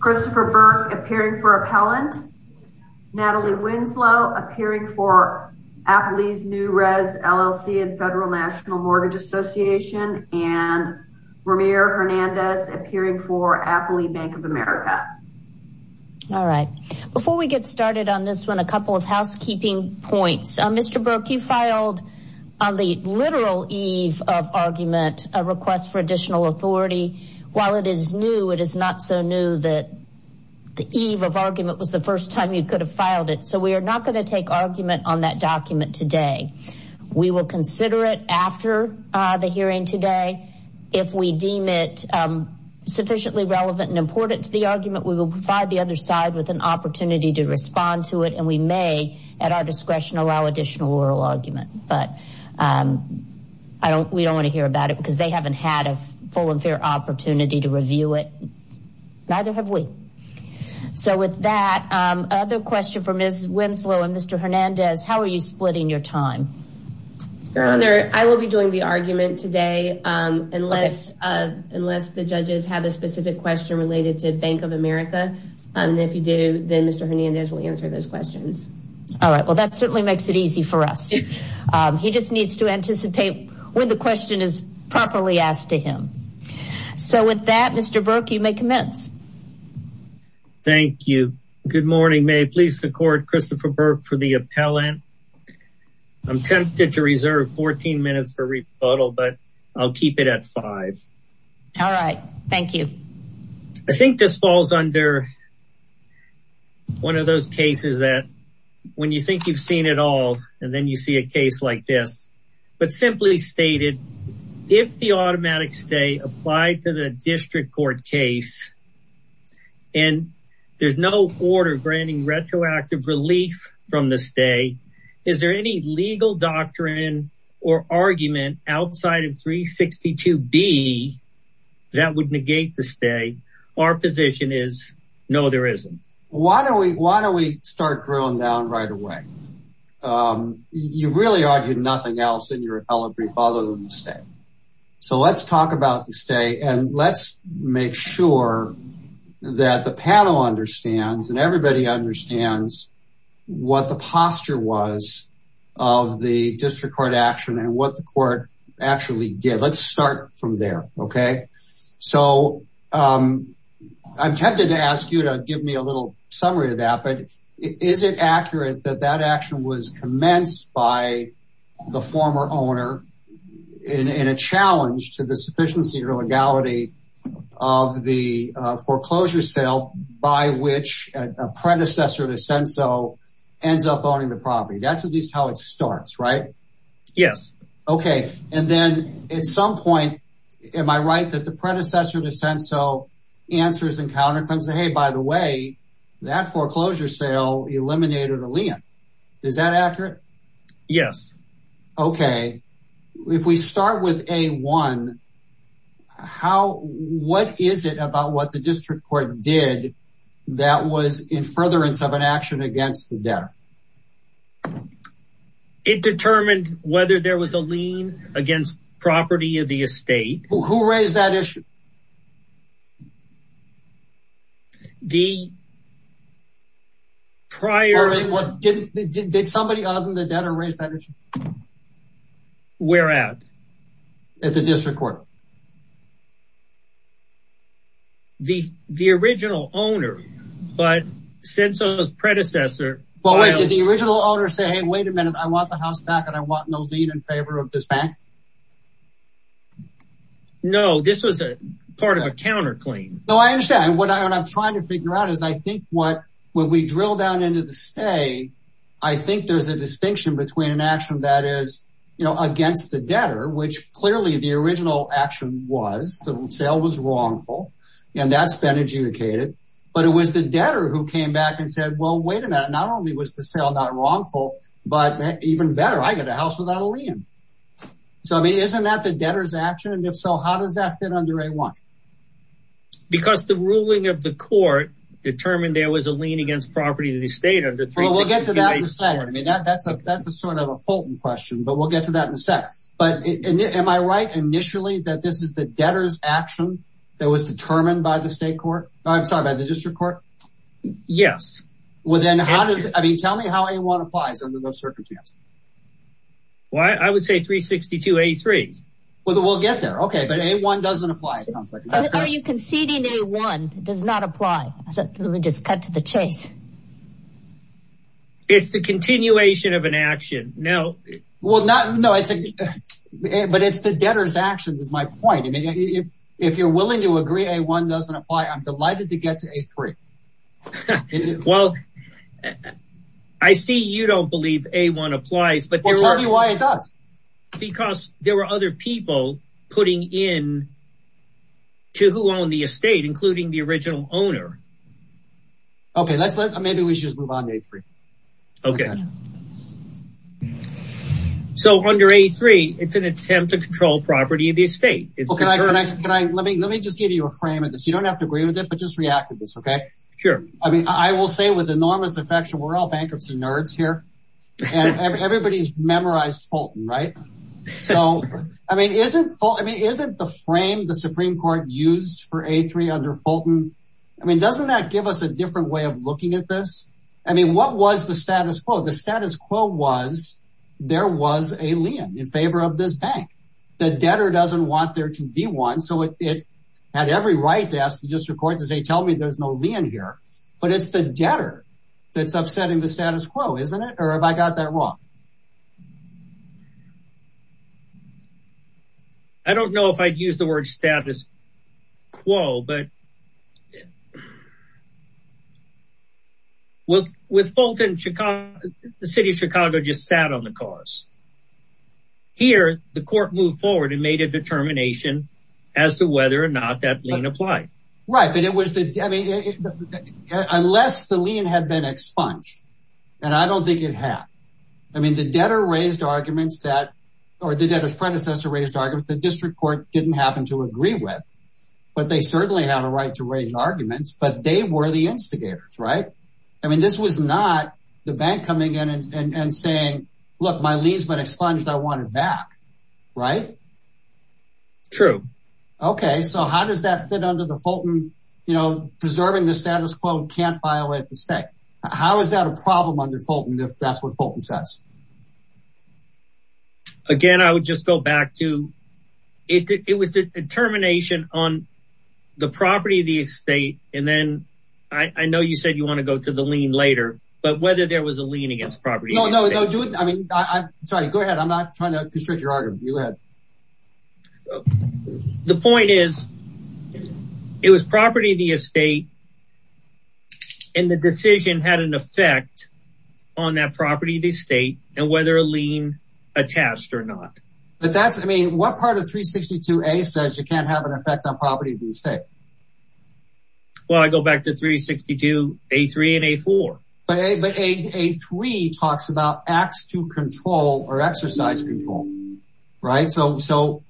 Christopher Burke appearing for Appellant, Natalie Winslow appearing for Apley's New Res LLC and Federal National Mortgage Association, and Ramir Hernandez appearing for Apley Bank of America. All right. Before we get started on this one, a couple of housekeeping points. Mr. Burke, you filed on the literal eve of argument a request for additional authority. While it is new, it is not so new that the eve of argument was the first time you could have filed it. So we are not going to take argument on that document today. We will consider it after the hearing today. If we deem it sufficiently relevant and important to the argument, we will provide the other opportunity to respond to it, and we may, at our discretion, allow additional oral argument. But we don't want to hear about it because they haven't had a full and fair opportunity to review it. Neither have we. So with that, another question for Ms. Winslow and Mr. Hernandez. How are you splitting your time? Your Honor, I will be doing the argument today unless the judges have a specific question related to Bank of America. If you do, then Mr. Hernandez will answer those questions. All right. Well, that certainly makes it easy for us. He just needs to anticipate when the question is properly asked to him. So with that, Mr. Burke, you may commence. Thank you. Good morning. May it please the Court, Christopher Burke for the appellant. I'm tempted to reserve 14 minutes for rebuttal, but I'll keep it at five. All right. Thank you. I think this falls under one of those cases that when you think you've seen it all and then you see a case like this, but simply stated, if the automatic stay applied to the district court case and there's no order granting retroactive relief from the stay, is there any legal doctrine or argument outside of 362B that would negate the stay? Our position is no, there isn't. Why don't we start drilling down right away? You really argued nothing else in your appellate brief other than the stay. So let's talk about the stay and let's make sure that the panel understands and everybody understands what the posture was of the district court action and what the court actually did. Let's start from there. Okay. So I'm tempted to ask you to give me a little summary of that, but is it accurate that that action was commenced by the former owner in a challenge to the sufficiency or legality of the foreclosure sale by which a predecessor to Senso ends up owning the property? That's at least how it starts, right? Yes. Okay. And then at some point, am I right that the predecessor to Senso answers and counter claims that, hey, by the way, that foreclosure sale eliminated a lien. Is that accurate? Yes. Okay. If we start with a one, how, what is it about what the district court did that was in furtherance of an action against the debtor? It determined whether there was a lien against property of the estate. Who raised that issue? Did somebody other than the debtor raise that issue? Where at? At the district court. The original owner, but Senso's predecessor filed- But wait, did the original owner say, hey, wait a minute, I want the house back and I want no lien in favor of this back? No. This was a part of a counter claim. No, I understand. What I'm trying to figure out is I think what, when we drill down into the stay, I think there's a distinction between an action that is, you know, against the debtor, which clearly the original action was, the sale was wrongful and that's been adjudicated. But it was the debtor who came back and said, well, wait a minute, not only was the sale not wrongful, but even better, I get a house without a lien. So I mean, isn't that the debtor's action? And if so, how does that fit under A-1? Because the ruling of the court determined there was a lien against property to the state under- Well, we'll get to that in a second. I mean, that's a, that's a sort of a Fulton question, but we'll get to that in a second. But am I right, initially, that this is the debtor's action that was determined by the state court? I'm sorry, by the district court? Yes. Well, then how does, I mean, tell me how A-1 applies under those circumstances? Well, I would say 362A-3. Well, we'll get there. Okay. But A-1 doesn't apply, it sounds like. How are you conceding A-1 does not apply? Let me just cut to the chase. It's the continuation of an action. No. Well, not, no, it's a, but it's the debtor's action is my point. I mean, if you're willing to agree A-1 doesn't apply, I'm delighted to get to A-3. Well, I see you don't believe A-1 applies, but there are- Well, tell me why it does. Because there were other people putting in to who owned the estate, including the original owner. Okay, let's let, maybe we should just move on to A-3. Okay. So under A-3, it's an attempt to control property of the estate. Can I, let me, let me just give you a frame of this. You don't have to agree with it, but just react to this, okay? Sure. I mean, I will say with enormous affection, we're all bankruptcy nerds here, and everybody's Fulton, right? So, I mean, isn't Fulton, I mean, isn't the frame the Supreme Court used for A-3 under Fulton? I mean, doesn't that give us a different way of looking at this? I mean, what was the status quo? The status quo was, there was a lien in favor of this bank. The debtor doesn't want there to be one. So it had every right to ask the district court to say, tell me there's no lien here, but it's the debtor that's upsetting the status quo, isn't it? Or have I got that wrong? I don't know if I'd use the word status quo, but with Fulton, Chicago, the city of Chicago just sat on the cause. Here the court moved forward and made a determination as to whether or not that lien applied. Right, but it was the, I mean, unless the lien had been expunged, and I don't think it had. I mean, the debtor raised arguments that, or the debtor's predecessor raised arguments the district court didn't happen to agree with, but they certainly have a right to raise arguments, but they were the instigators, right? I mean, this was not the bank coming in and saying, look, my lien's been expunged. I want it back, right? True. Okay, so how does that fit under the Fulton, you know, preserving the status quo can't violate the state. How is that a problem under Fulton? Again, I would just go back to, it was the determination on the property of the estate. And then I know you said you want to go to the lien later, but whether there was a lien against property. No, no, no. Do it. I mean, I'm sorry. Go ahead. I'm not trying to constrict your argument. You go ahead. The point is it was property of the estate and the decision had an effect on that property of the estate and whether a lien attached or not. But that's, I mean, what part of 362A says you can't have an effect on property of the estate? Well, I go back to 362A3 and A4. But A3 talks about acts to control or exercise control, right? So,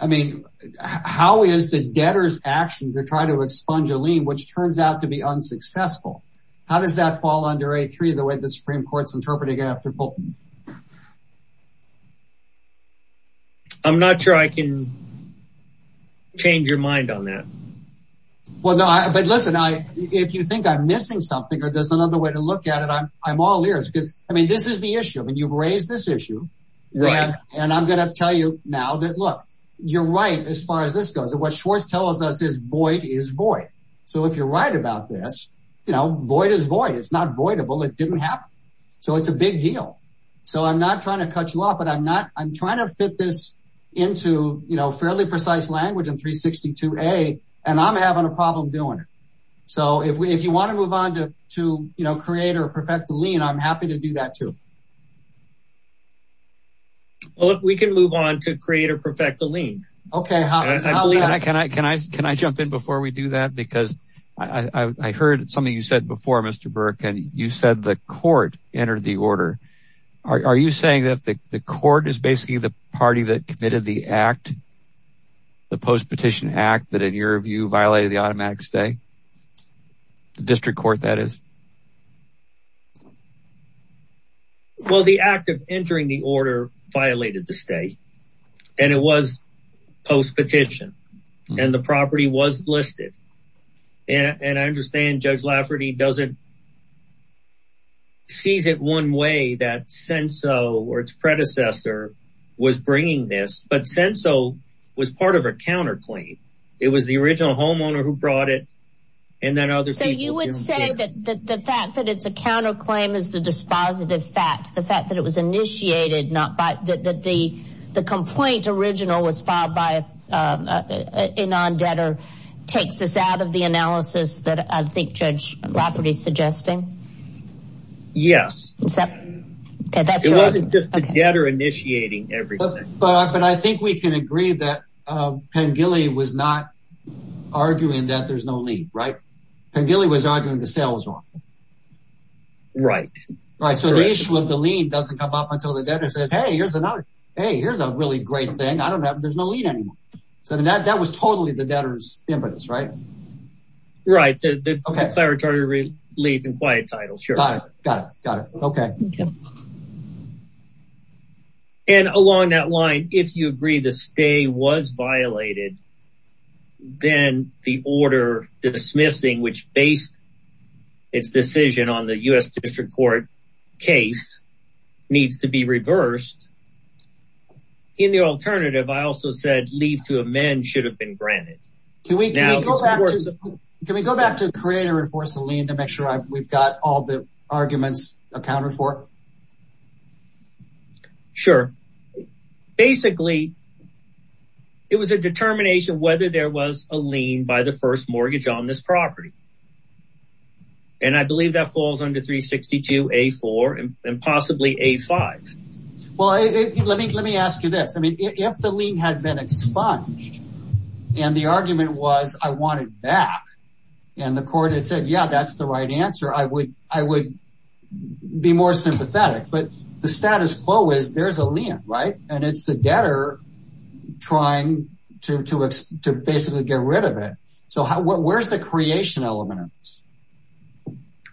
I mean, how is the debtor's action to try to expunge a lien, which turns out to be unsuccessful? How does that fall under A3, the way the Supreme Court's interpreting it after Fulton? I'm not sure I can change your mind on that. Well, no, but listen, if you think I'm missing something or there's another way to look at it, I'm all ears because, I mean, this is the issue and you've raised this issue. And I'm going to tell you now that, look, you're right as far as this goes. What Schwarz tells us is void is void. So if you're right about this, you know, void is void. It's not voidable. It didn't happen. So it's a big deal. So I'm not trying to cut you off, but I'm trying to fit this into fairly precise language in 362A and I'm having a problem doing it. So if you want to move on to create or perfect the lien, I'm happy to do that too. Well, if we can move on to create or perfect the lien. OK, can I can I can I can I jump in before we do that? Because I heard something you said before, Mr. Burke, and you said the court entered the order. Are you saying that the court is basically the party that committed the act, the post petition act that, in your view, violated the automatic stay, the district court, that is? Well, the act of entering the order violated the state and it was post petition and the property was listed. And I understand Judge Lafferty doesn't. Sees it one way that Senso or its predecessor was bringing this, but Senso was part of a counterclaim. It was the original homeowner who brought it. And then other. So you would say that the fact that it's a counterclaim is the dispositive fact, the fact that it was initiated, not that the the complaint original was filed by a non-debtor takes us out of the analysis that I think Judge Lafferty is suggesting. Yes. It wasn't just the debtor initiating everything. But but I think we can agree that Penn Gilly was not arguing that there's no lead, right? And Gilly was arguing the sale was wrong. Right. Right. So the issue of the lien doesn't come up until the debtor says, hey, here's another. Hey, here's a really great thing. I don't know. There's no lien anymore. So that that was totally the debtor's impetus, right? Right. The declaratory lien in quiet title. Sure. Got it. Got it. OK. OK. And along that line, if you agree the stay was violated, then the order dismissing which based its decision on the U.S. District Court case needs to be reversed. In the alternative, I also said leave to amend should have been granted. Can we go back to create or enforce a lien to make sure we've got all the arguments accounted for? Sure. Basically, it was a determination whether there was a lien by the first mortgage on this property. And I believe that falls under 362 A4 and possibly A5. Well, let me let me ask you this. I mean, if the lien had been expunged and the argument was I want it back and the court had said, yeah, that's the right answer. I would I would be more sympathetic. But the status quo is there's a lien, right? And it's the debtor trying to to to basically get rid of it. So where's the creation element of this?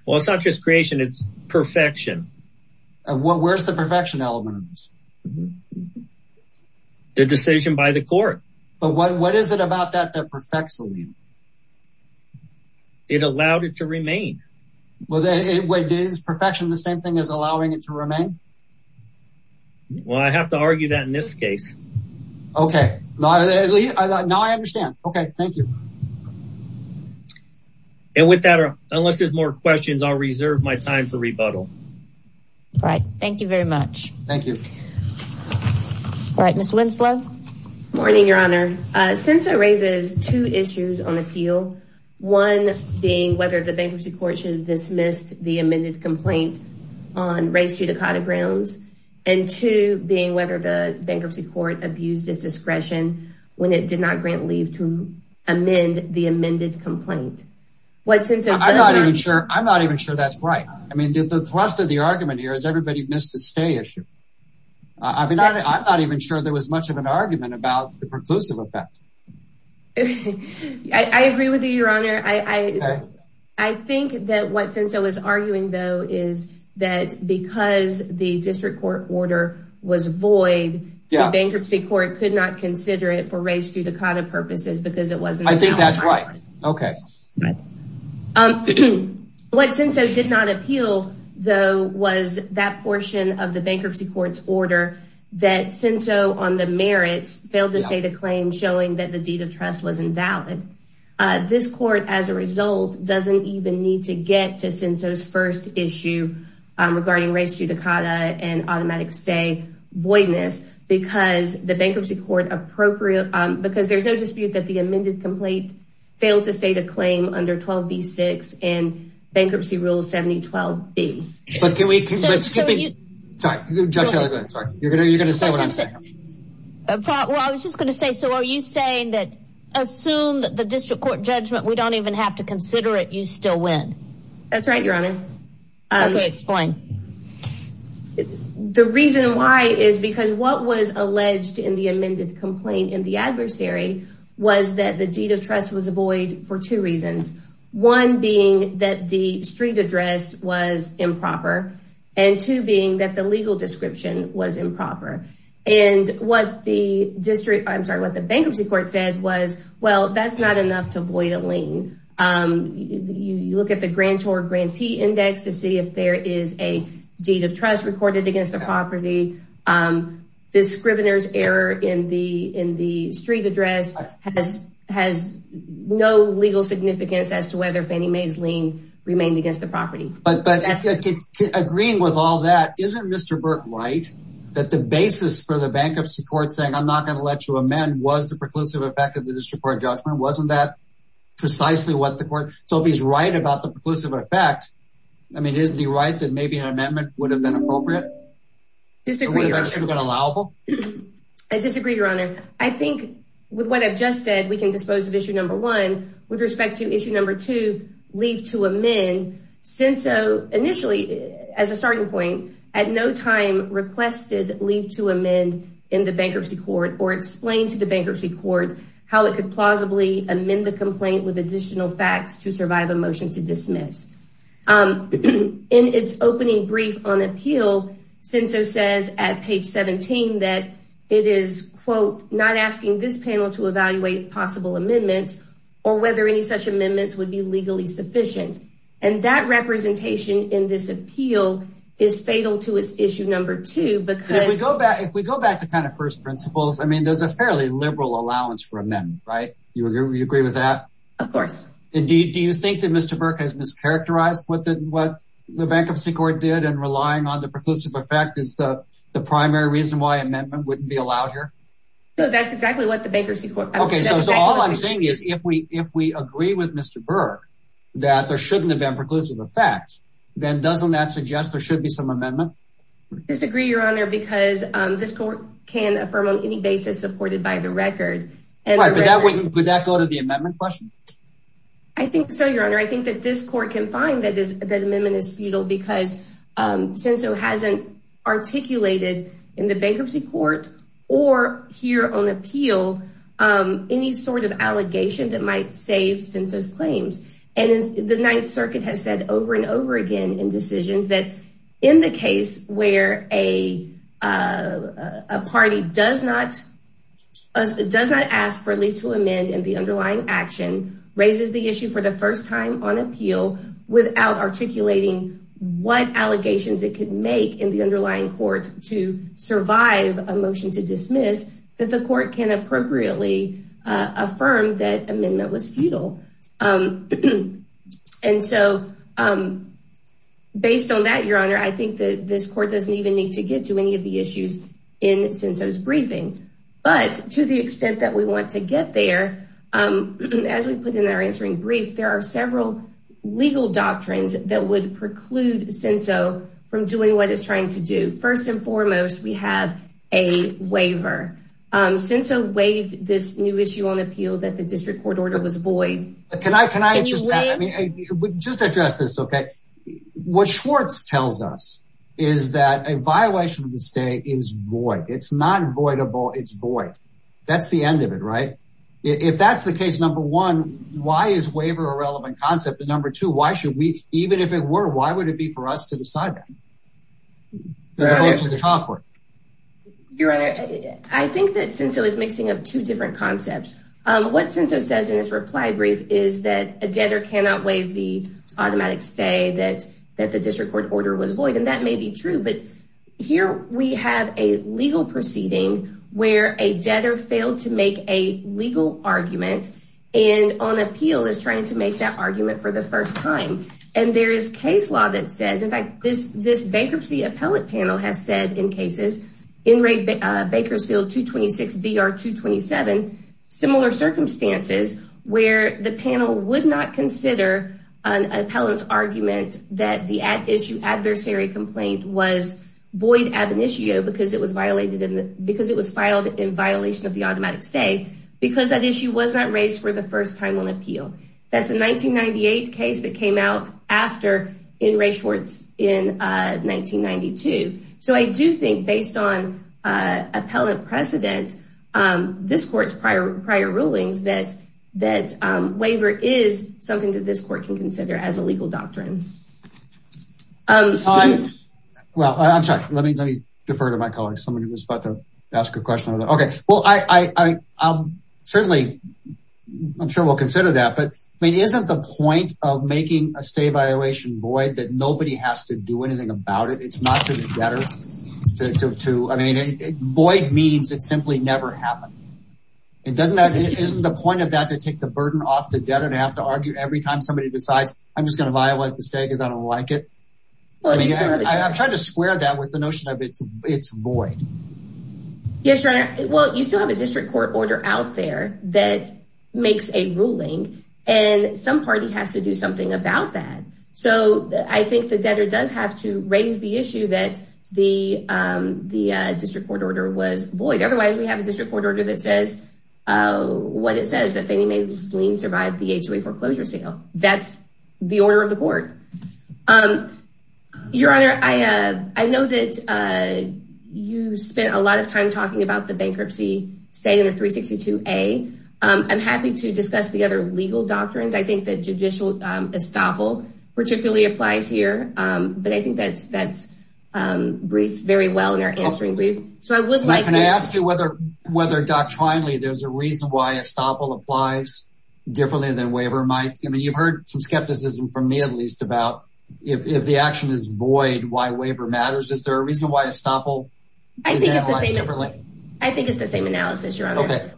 Well, it's not just creation, it's perfection. Where's the perfection element of this? The decision by the court. But what what is it about that that perfects the lien? It allowed it to remain what it is, perfection, the same thing as allowing it to remain. Well, I have to argue that in this case. OK, now I understand. OK, thank you. And with that, unless there's more questions, I'll reserve my time for rebuttal. All right. Thank you very much. All right, Miss Winslow. Morning, Your Honor. Since it raises two issues on appeal, one being whether the bankruptcy court should have dismissed the amended complaint on race judicata grounds and two being whether the bankruptcy court abused its discretion when it did not grant leave to amend the amended complaint, what since I'm not even sure I'm not even sure that's right. I mean, the thrust of the argument here is everybody missed the stay issue. I mean, I'm not even sure there was much of an argument about the preclusive effect. I agree with you, Your Honor. I I think that what since I was arguing, though, is that because the district court order was void, the bankruptcy court could not consider it for race judicata purposes because it wasn't. I think that's right. OK. What since I did not appeal, though, was that portion of the bankruptcy court's order that since on the merits failed to state a claim showing that the deed of trust was invalid. This court, as a result, doesn't even need to get to since those first issue regarding race judicata and automatic stay voidness because the bankruptcy court appropriate because there's no dispute that the amended complaint failed to state a claim under 12B6 and bankruptcy rule 7012B. But can we excuse me? Sorry, Judge Shelley, you're going to say what I'm saying. Well, I was just going to say, so are you saying that assume that the district court judgment, we don't even have to consider it. You still win. That's right, Your Honor. So the reason that the district court didn't have to complain in the adversary was that the deed of trust was void for two reasons, one being that the street address was improper and two being that the legal description was improper. And what the district, I'm sorry, what the bankruptcy court said was, well, that's not enough to void a lien. You look at the grantor grantee index to see if there is a deed of trust recorded against the property. The scrivener's error in the in the street address has has no legal significance as to whether Fannie Mae's lien remained against the property. But agreeing with all that, isn't Mr. Burke right that the basis for the bankruptcy court saying I'm not going to let you amend was the preclusive effect of the district court judgment? Wasn't that precisely what the court? So if he's right about the preclusive effect, I mean, isn't he right that maybe an amendment would have been appropriate? Disagreeable. Disagree, your honor. I think with what I've just said, we can dispose of issue number one with respect to issue number two, leave to amend since initially as a starting point, at no time requested leave to amend in the bankruptcy court or explain to the bankruptcy court how it could plausibly amend the complaint with additional facts to survive a motion to amend. And so says at page 17 that it is, quote, not asking this panel to evaluate possible amendments or whether any such amendments would be legally sufficient. And that representation in this appeal is fatal to its issue number two. But if we go back, if we go back to kind of first principles, I mean, there's a fairly liberal allowance for amendment, right? You agree with that? Of course. Indeed. Do you think that Mr. Burke has mischaracterized what the what the bankruptcy court did and relying on the fact is the the primary reason why amendment wouldn't be allowed here? So that's exactly what the bankruptcy court. OK, so all I'm saying is if we if we agree with Mr. Burke that there shouldn't have been preclusive effect, then doesn't that suggest there should be some amendment? Disagree, your honor, because this court can affirm on any basis supported by the record. And that would that go to the amendment question? I think so, your honor, I think that this court can find that that amendment is futile because since it hasn't articulated in the bankruptcy court or here on appeal, any sort of allegation that might save census claims. And the Ninth Circuit has said over and over again in decisions that in the case where a party does not does not ask for a legal amend and the underlying action raises the what allegations it could make in the underlying court to survive a motion to dismiss that the court can appropriately affirm that amendment was futile. And so based on that, your honor, I think that this court doesn't even need to get to any of the issues in census briefing. But to the extent that we want to get there, as we put in our answering brief, there are a number of things that preclude CINSO from doing what it's trying to do. First and foremost, we have a waiver. CINSO waived this new issue on appeal that the district court order was void. Can I just just address this? OK, what Schwartz tells us is that a violation of the state is void. It's not voidable. It's void. That's the end of it. Right. If that's the case, number one, why is waiver a relevant concept? And number two, why should we even if it were, why would it be for us to decide that? As opposed to the top one. Your honor, I think that CINSO is mixing up two different concepts. What CINSO says in this reply brief is that a debtor cannot waive the automatic stay that that the district court order was void. And that may be true. But here we have a legal proceeding where a debtor failed to make a waiver for the first time. And there is case law that says, in fact, this this bankruptcy appellate panel has said in cases in Bakersfield 226, BR 227, similar circumstances where the panel would not consider an appellant's argument that the at issue adversary complaint was void ab initio because it was violated because it was filed in violation of the automatic stay because that issue was not raised for the first time on appeal. That's a 1998 case that came out after in Ray Schwartz in 1992. So I do think based on appellant precedent, this court's prior prior rulings that that waiver is something that this court can consider as a legal doctrine. Well, I'm sorry. Let me let me defer to my colleagues. Somebody was about to ask a question. OK, well, I certainly I'm sure we'll consider that, but I mean, isn't the point of making a stay violation void that nobody has to do anything about it? It's not to the debtor to I mean, void means it simply never happened. It doesn't that isn't the point of that to take the burden off the debtor to have to argue every time somebody decides I'm just going to violate the stay because I don't like it. I'm trying to square that with the notion of it's it's void. Yes, your honor. Well, you still have a district court order out there that makes a ruling and some party has to do something about that. So I think the debtor does have to raise the issue that the the district court order was void. Otherwise, we have a district court order that says what it says that they may survive the H.O.A. foreclosure sale. That's the order of the court. Um, your honor, I know that you spent a lot of time talking about the bankruptcy stay under 362A. I'm happy to discuss the other legal doctrines. I think that judicial estoppel particularly applies here. But I think that's that's brief very well in our answering brief. So I would like to ask you whether whether doctrinally there's a reason why estoppel applies differently than waiver might. I mean, you've heard some skepticism from me, at least about if the action is void, why waiver matters. Is there a reason why estoppel is analyzed differently? I think it's the same analysis, your honor.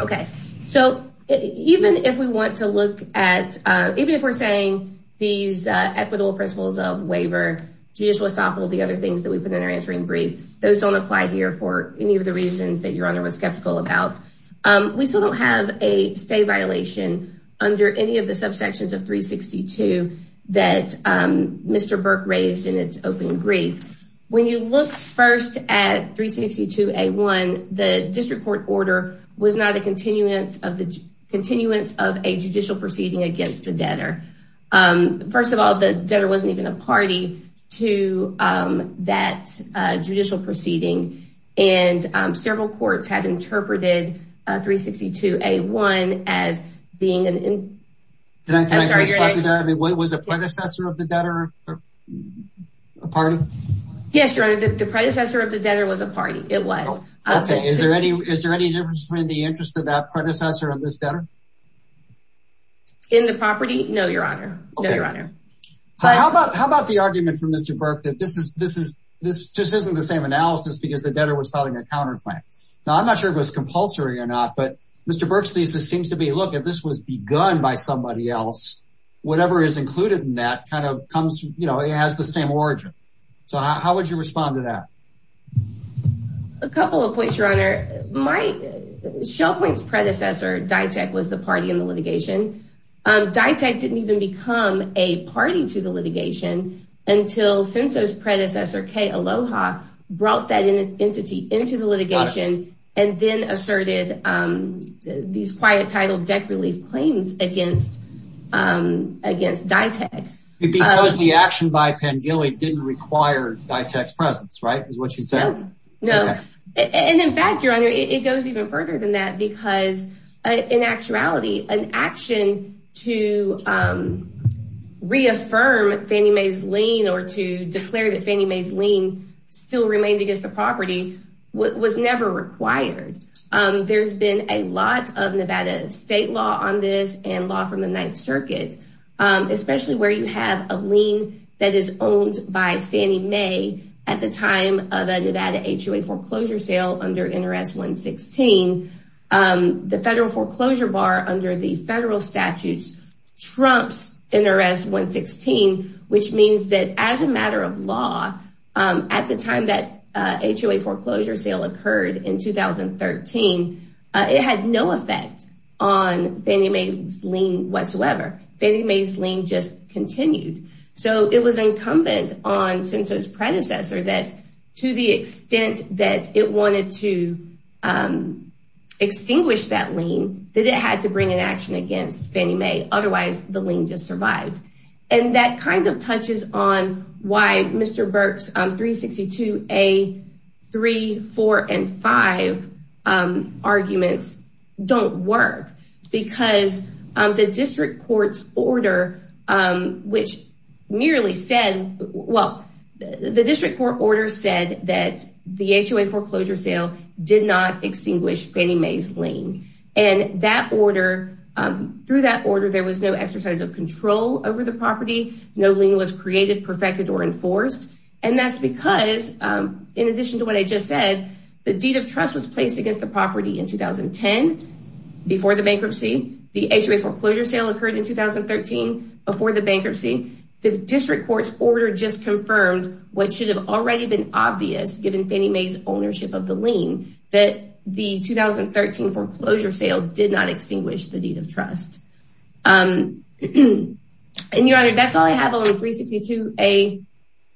OK, so even if we want to look at even if we're saying these equitable principles of waiver, judicial estoppel, the other things that we put in our answering brief, those don't apply here for any of the reasons that your honor was skeptical about. We still don't have a stay violation under any of the subsections of 362 that Mr. Burke raised in its opening brief. When you look first at 362A1, the district court order was not a continuance of the continuance of a judicial proceeding against the debtor. First of all, the debtor wasn't even a party to that judicial proceeding. And several courts have interpreted 362A1 as being an. And I'm sorry, I mean, what was the predecessor of the debtor a party? Yes, your honor, the predecessor of the debtor was a party. It was. Is there any is there any difference in the interest of that predecessor of this debtor? In the property? No, your honor. No, your honor. How about how about the argument from Mr. Burke that this is this is this just isn't the same analysis because the debtor was filing a counterclaim? Now, I'm not sure it was compulsory or not, but Mr. Burke's thesis seems to be, look, if this was begun by somebody else, whatever is included in that kind of comes, you know, it has the same origin. So how would you respond to that? A couple of points, your honor. My shell points predecessor, Ditek, was the party in the litigation. Ditek didn't even become a party to the litigation until since his predecessor, K. Aloha, brought that entity into the litigation and then asserted these quiet title debt relief claims against against Ditek. It because the action by Pangelli didn't require Ditek's presence. Right. Is what you said. No. And in fact, your honor, it goes even further than that, because in actuality, an action to reaffirm Fannie Mae's lien or to declare that Fannie Mae's lien still remained against the property was never required. There's been a lot of Nevada state law on this and law from the Ninth Circuit, especially where you have a lien that is owned by Fannie Mae at the time of the Nevada HOA foreclosure sale under NRS 116. The federal foreclosure bar under the federal statutes trumps NRS 116, which means that as a matter of law, at the time that HOA foreclosure sale occurred in 2013, it had no effect on Fannie Mae's lien whatsoever. Fannie Mae's lien just continued. So it was incumbent on Senso's predecessor that to the extent that it wanted to extinguish that lien, that it had to bring an action against Fannie Mae. Otherwise, the lien just survived. And that kind of touches on why Mr. Burke's 362A, 3, 4 and 5 arguments don't work, because the district court's order, which merely said, well, the district court order said that the HOA foreclosure sale did not extinguish Fannie Mae's lien. And that order, through that order, there was no exercise of control over the property. No lien was created, perfected or enforced. And that's because in addition to what I just said, the deed of trust was placed against the property in 2010 before the bankruptcy. The HOA foreclosure sale occurred in 2013 before the bankruptcy. The district court's order just confirmed what should have already been obvious, given Fannie Mae's ownership of the lien, that the 2013 foreclosure sale did not extinguish the deed of trust. And, Your Honor, that's all I have on 362A,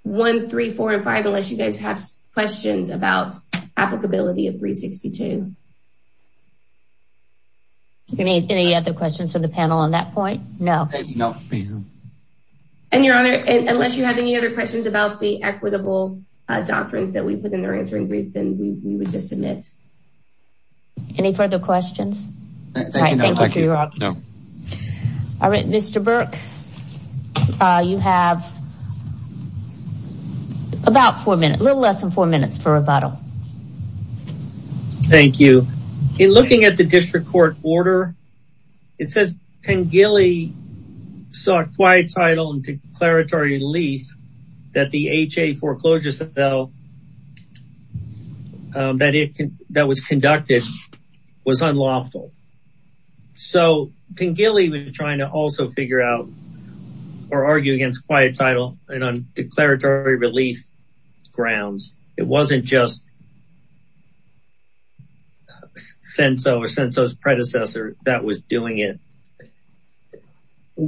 1, 3, 4 and 5, unless you guys have questions about applicability of 362. Do you have any other questions for the panel on that point? No, no. And, Your Honor, unless you have any other questions about the equitable doctrines that we put in their answering brief, then we would just submit. Any further questions? Thank you. All right, Mr. Burke, you have. About four minutes, a little less than four minutes for rebuttal. Thank you. In looking at the district court order, it says Pengele sought quiet title and declaratory relief that the HOA foreclosure sale that was conducted was unlawful. So, Pengele was trying to also figure out or argue against quiet title and declaratory relief grounds. It wasn't just Senso or Senso's predecessor that was doing it.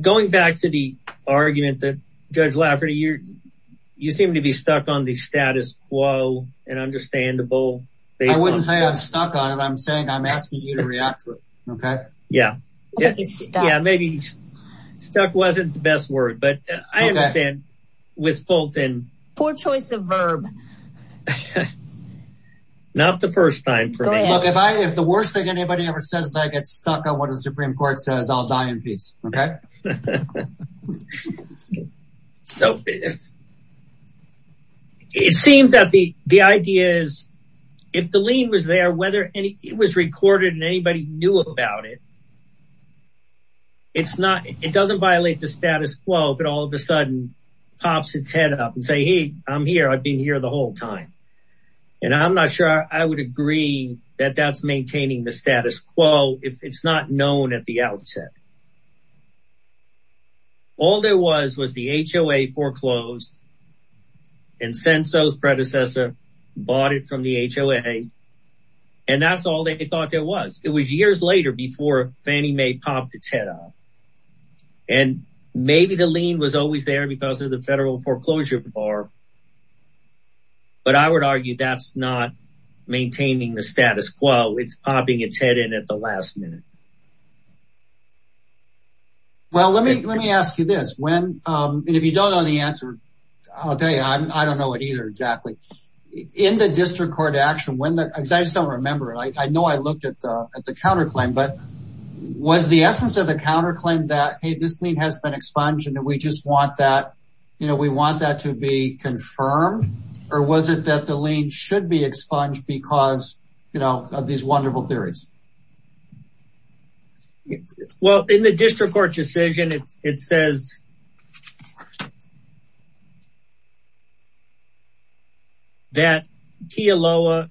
Going back to the argument that Judge Lafferty, you seem to be stuck on the status quo and understandable. I wouldn't say I'm stuck on it. I'm saying I'm asking you to react to it. OK. Yeah. Yeah. Maybe stuck wasn't the best word, but I understand. With Fulton. Poor choice of verb. Not the first time for me. Look, if the worst thing anybody ever says is I get stuck on what the Supreme Court says, I'll die in peace. OK? So it seems that the idea is if the lien was there, whether it was recorded and anybody knew about it. It's not it doesn't violate the status quo, but all of a sudden pops its head up and say, hey, I'm here, I've been here the whole time. And I'm not sure I would agree that that's maintaining the status quo if it's not known at the outset. All there was was the HOA foreclosed. And Senso's predecessor bought it from the HOA. And that's all they thought there was. It was years later before Fannie Mae popped its head up and maybe the lien was always there because of the federal foreclosure bar. But I would argue that's not maintaining the status quo, it's popping its head in at the last minute. Well, let me let me ask you this, when and if you don't know the answer, I'll tell you, I don't know it either. Exactly. In the district court action, when the guys don't remember it, I know I looked at the counterclaim, but was the essence of the counterclaim that, hey, this lien has been expunged and we just want that, you know, we want that to be confirmed, or was it that the lien should be expunged because, you know, of these wonderful theories? Well, in the district court decision, it says. That Kealoha,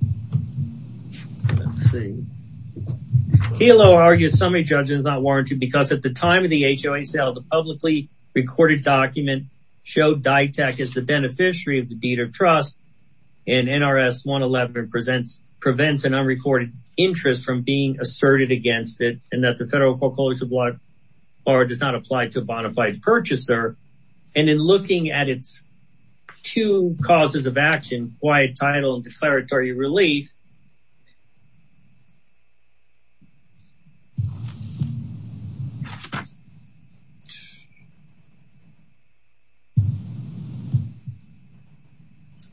let's see, Kealoha argued summary judgment is not warranted because at the time of the HOA sale, the publicly recorded document showed DITAC is the beneficiary of the deed of trust and NRS 111 presents prevents an unrecorded interest from being asserted against it and that the federal foreclosure bar does not apply to a bona fide purchaser. And in looking at its two causes of action, quiet title and declaratory relief.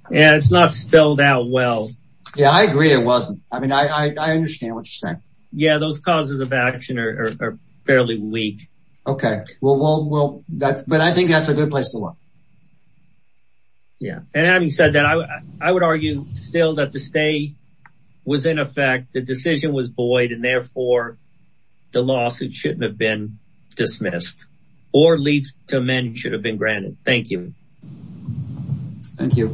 Yeah, it's not spelled out well. Yeah, I agree it wasn't. Yeah, those causes of action are fairly weak. OK, well, well, well, that's but I think that's a good place to look. Yeah, and having said that, I would argue still that the stay was in effect, the decision was void and therefore the lawsuit shouldn't have been dismissed or leave to amend should have been granted. Thank you. Thank you.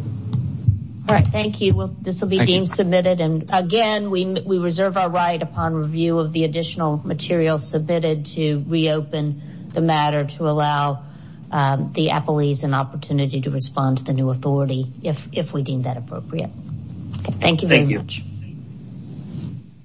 All right. Thank you. This will be deemed submitted. And again, we reserve our right upon review of the additional material submitted to reopen the matter to allow the appellees an opportunity to respond to the new authority if we deem that appropriate. Thank you very much.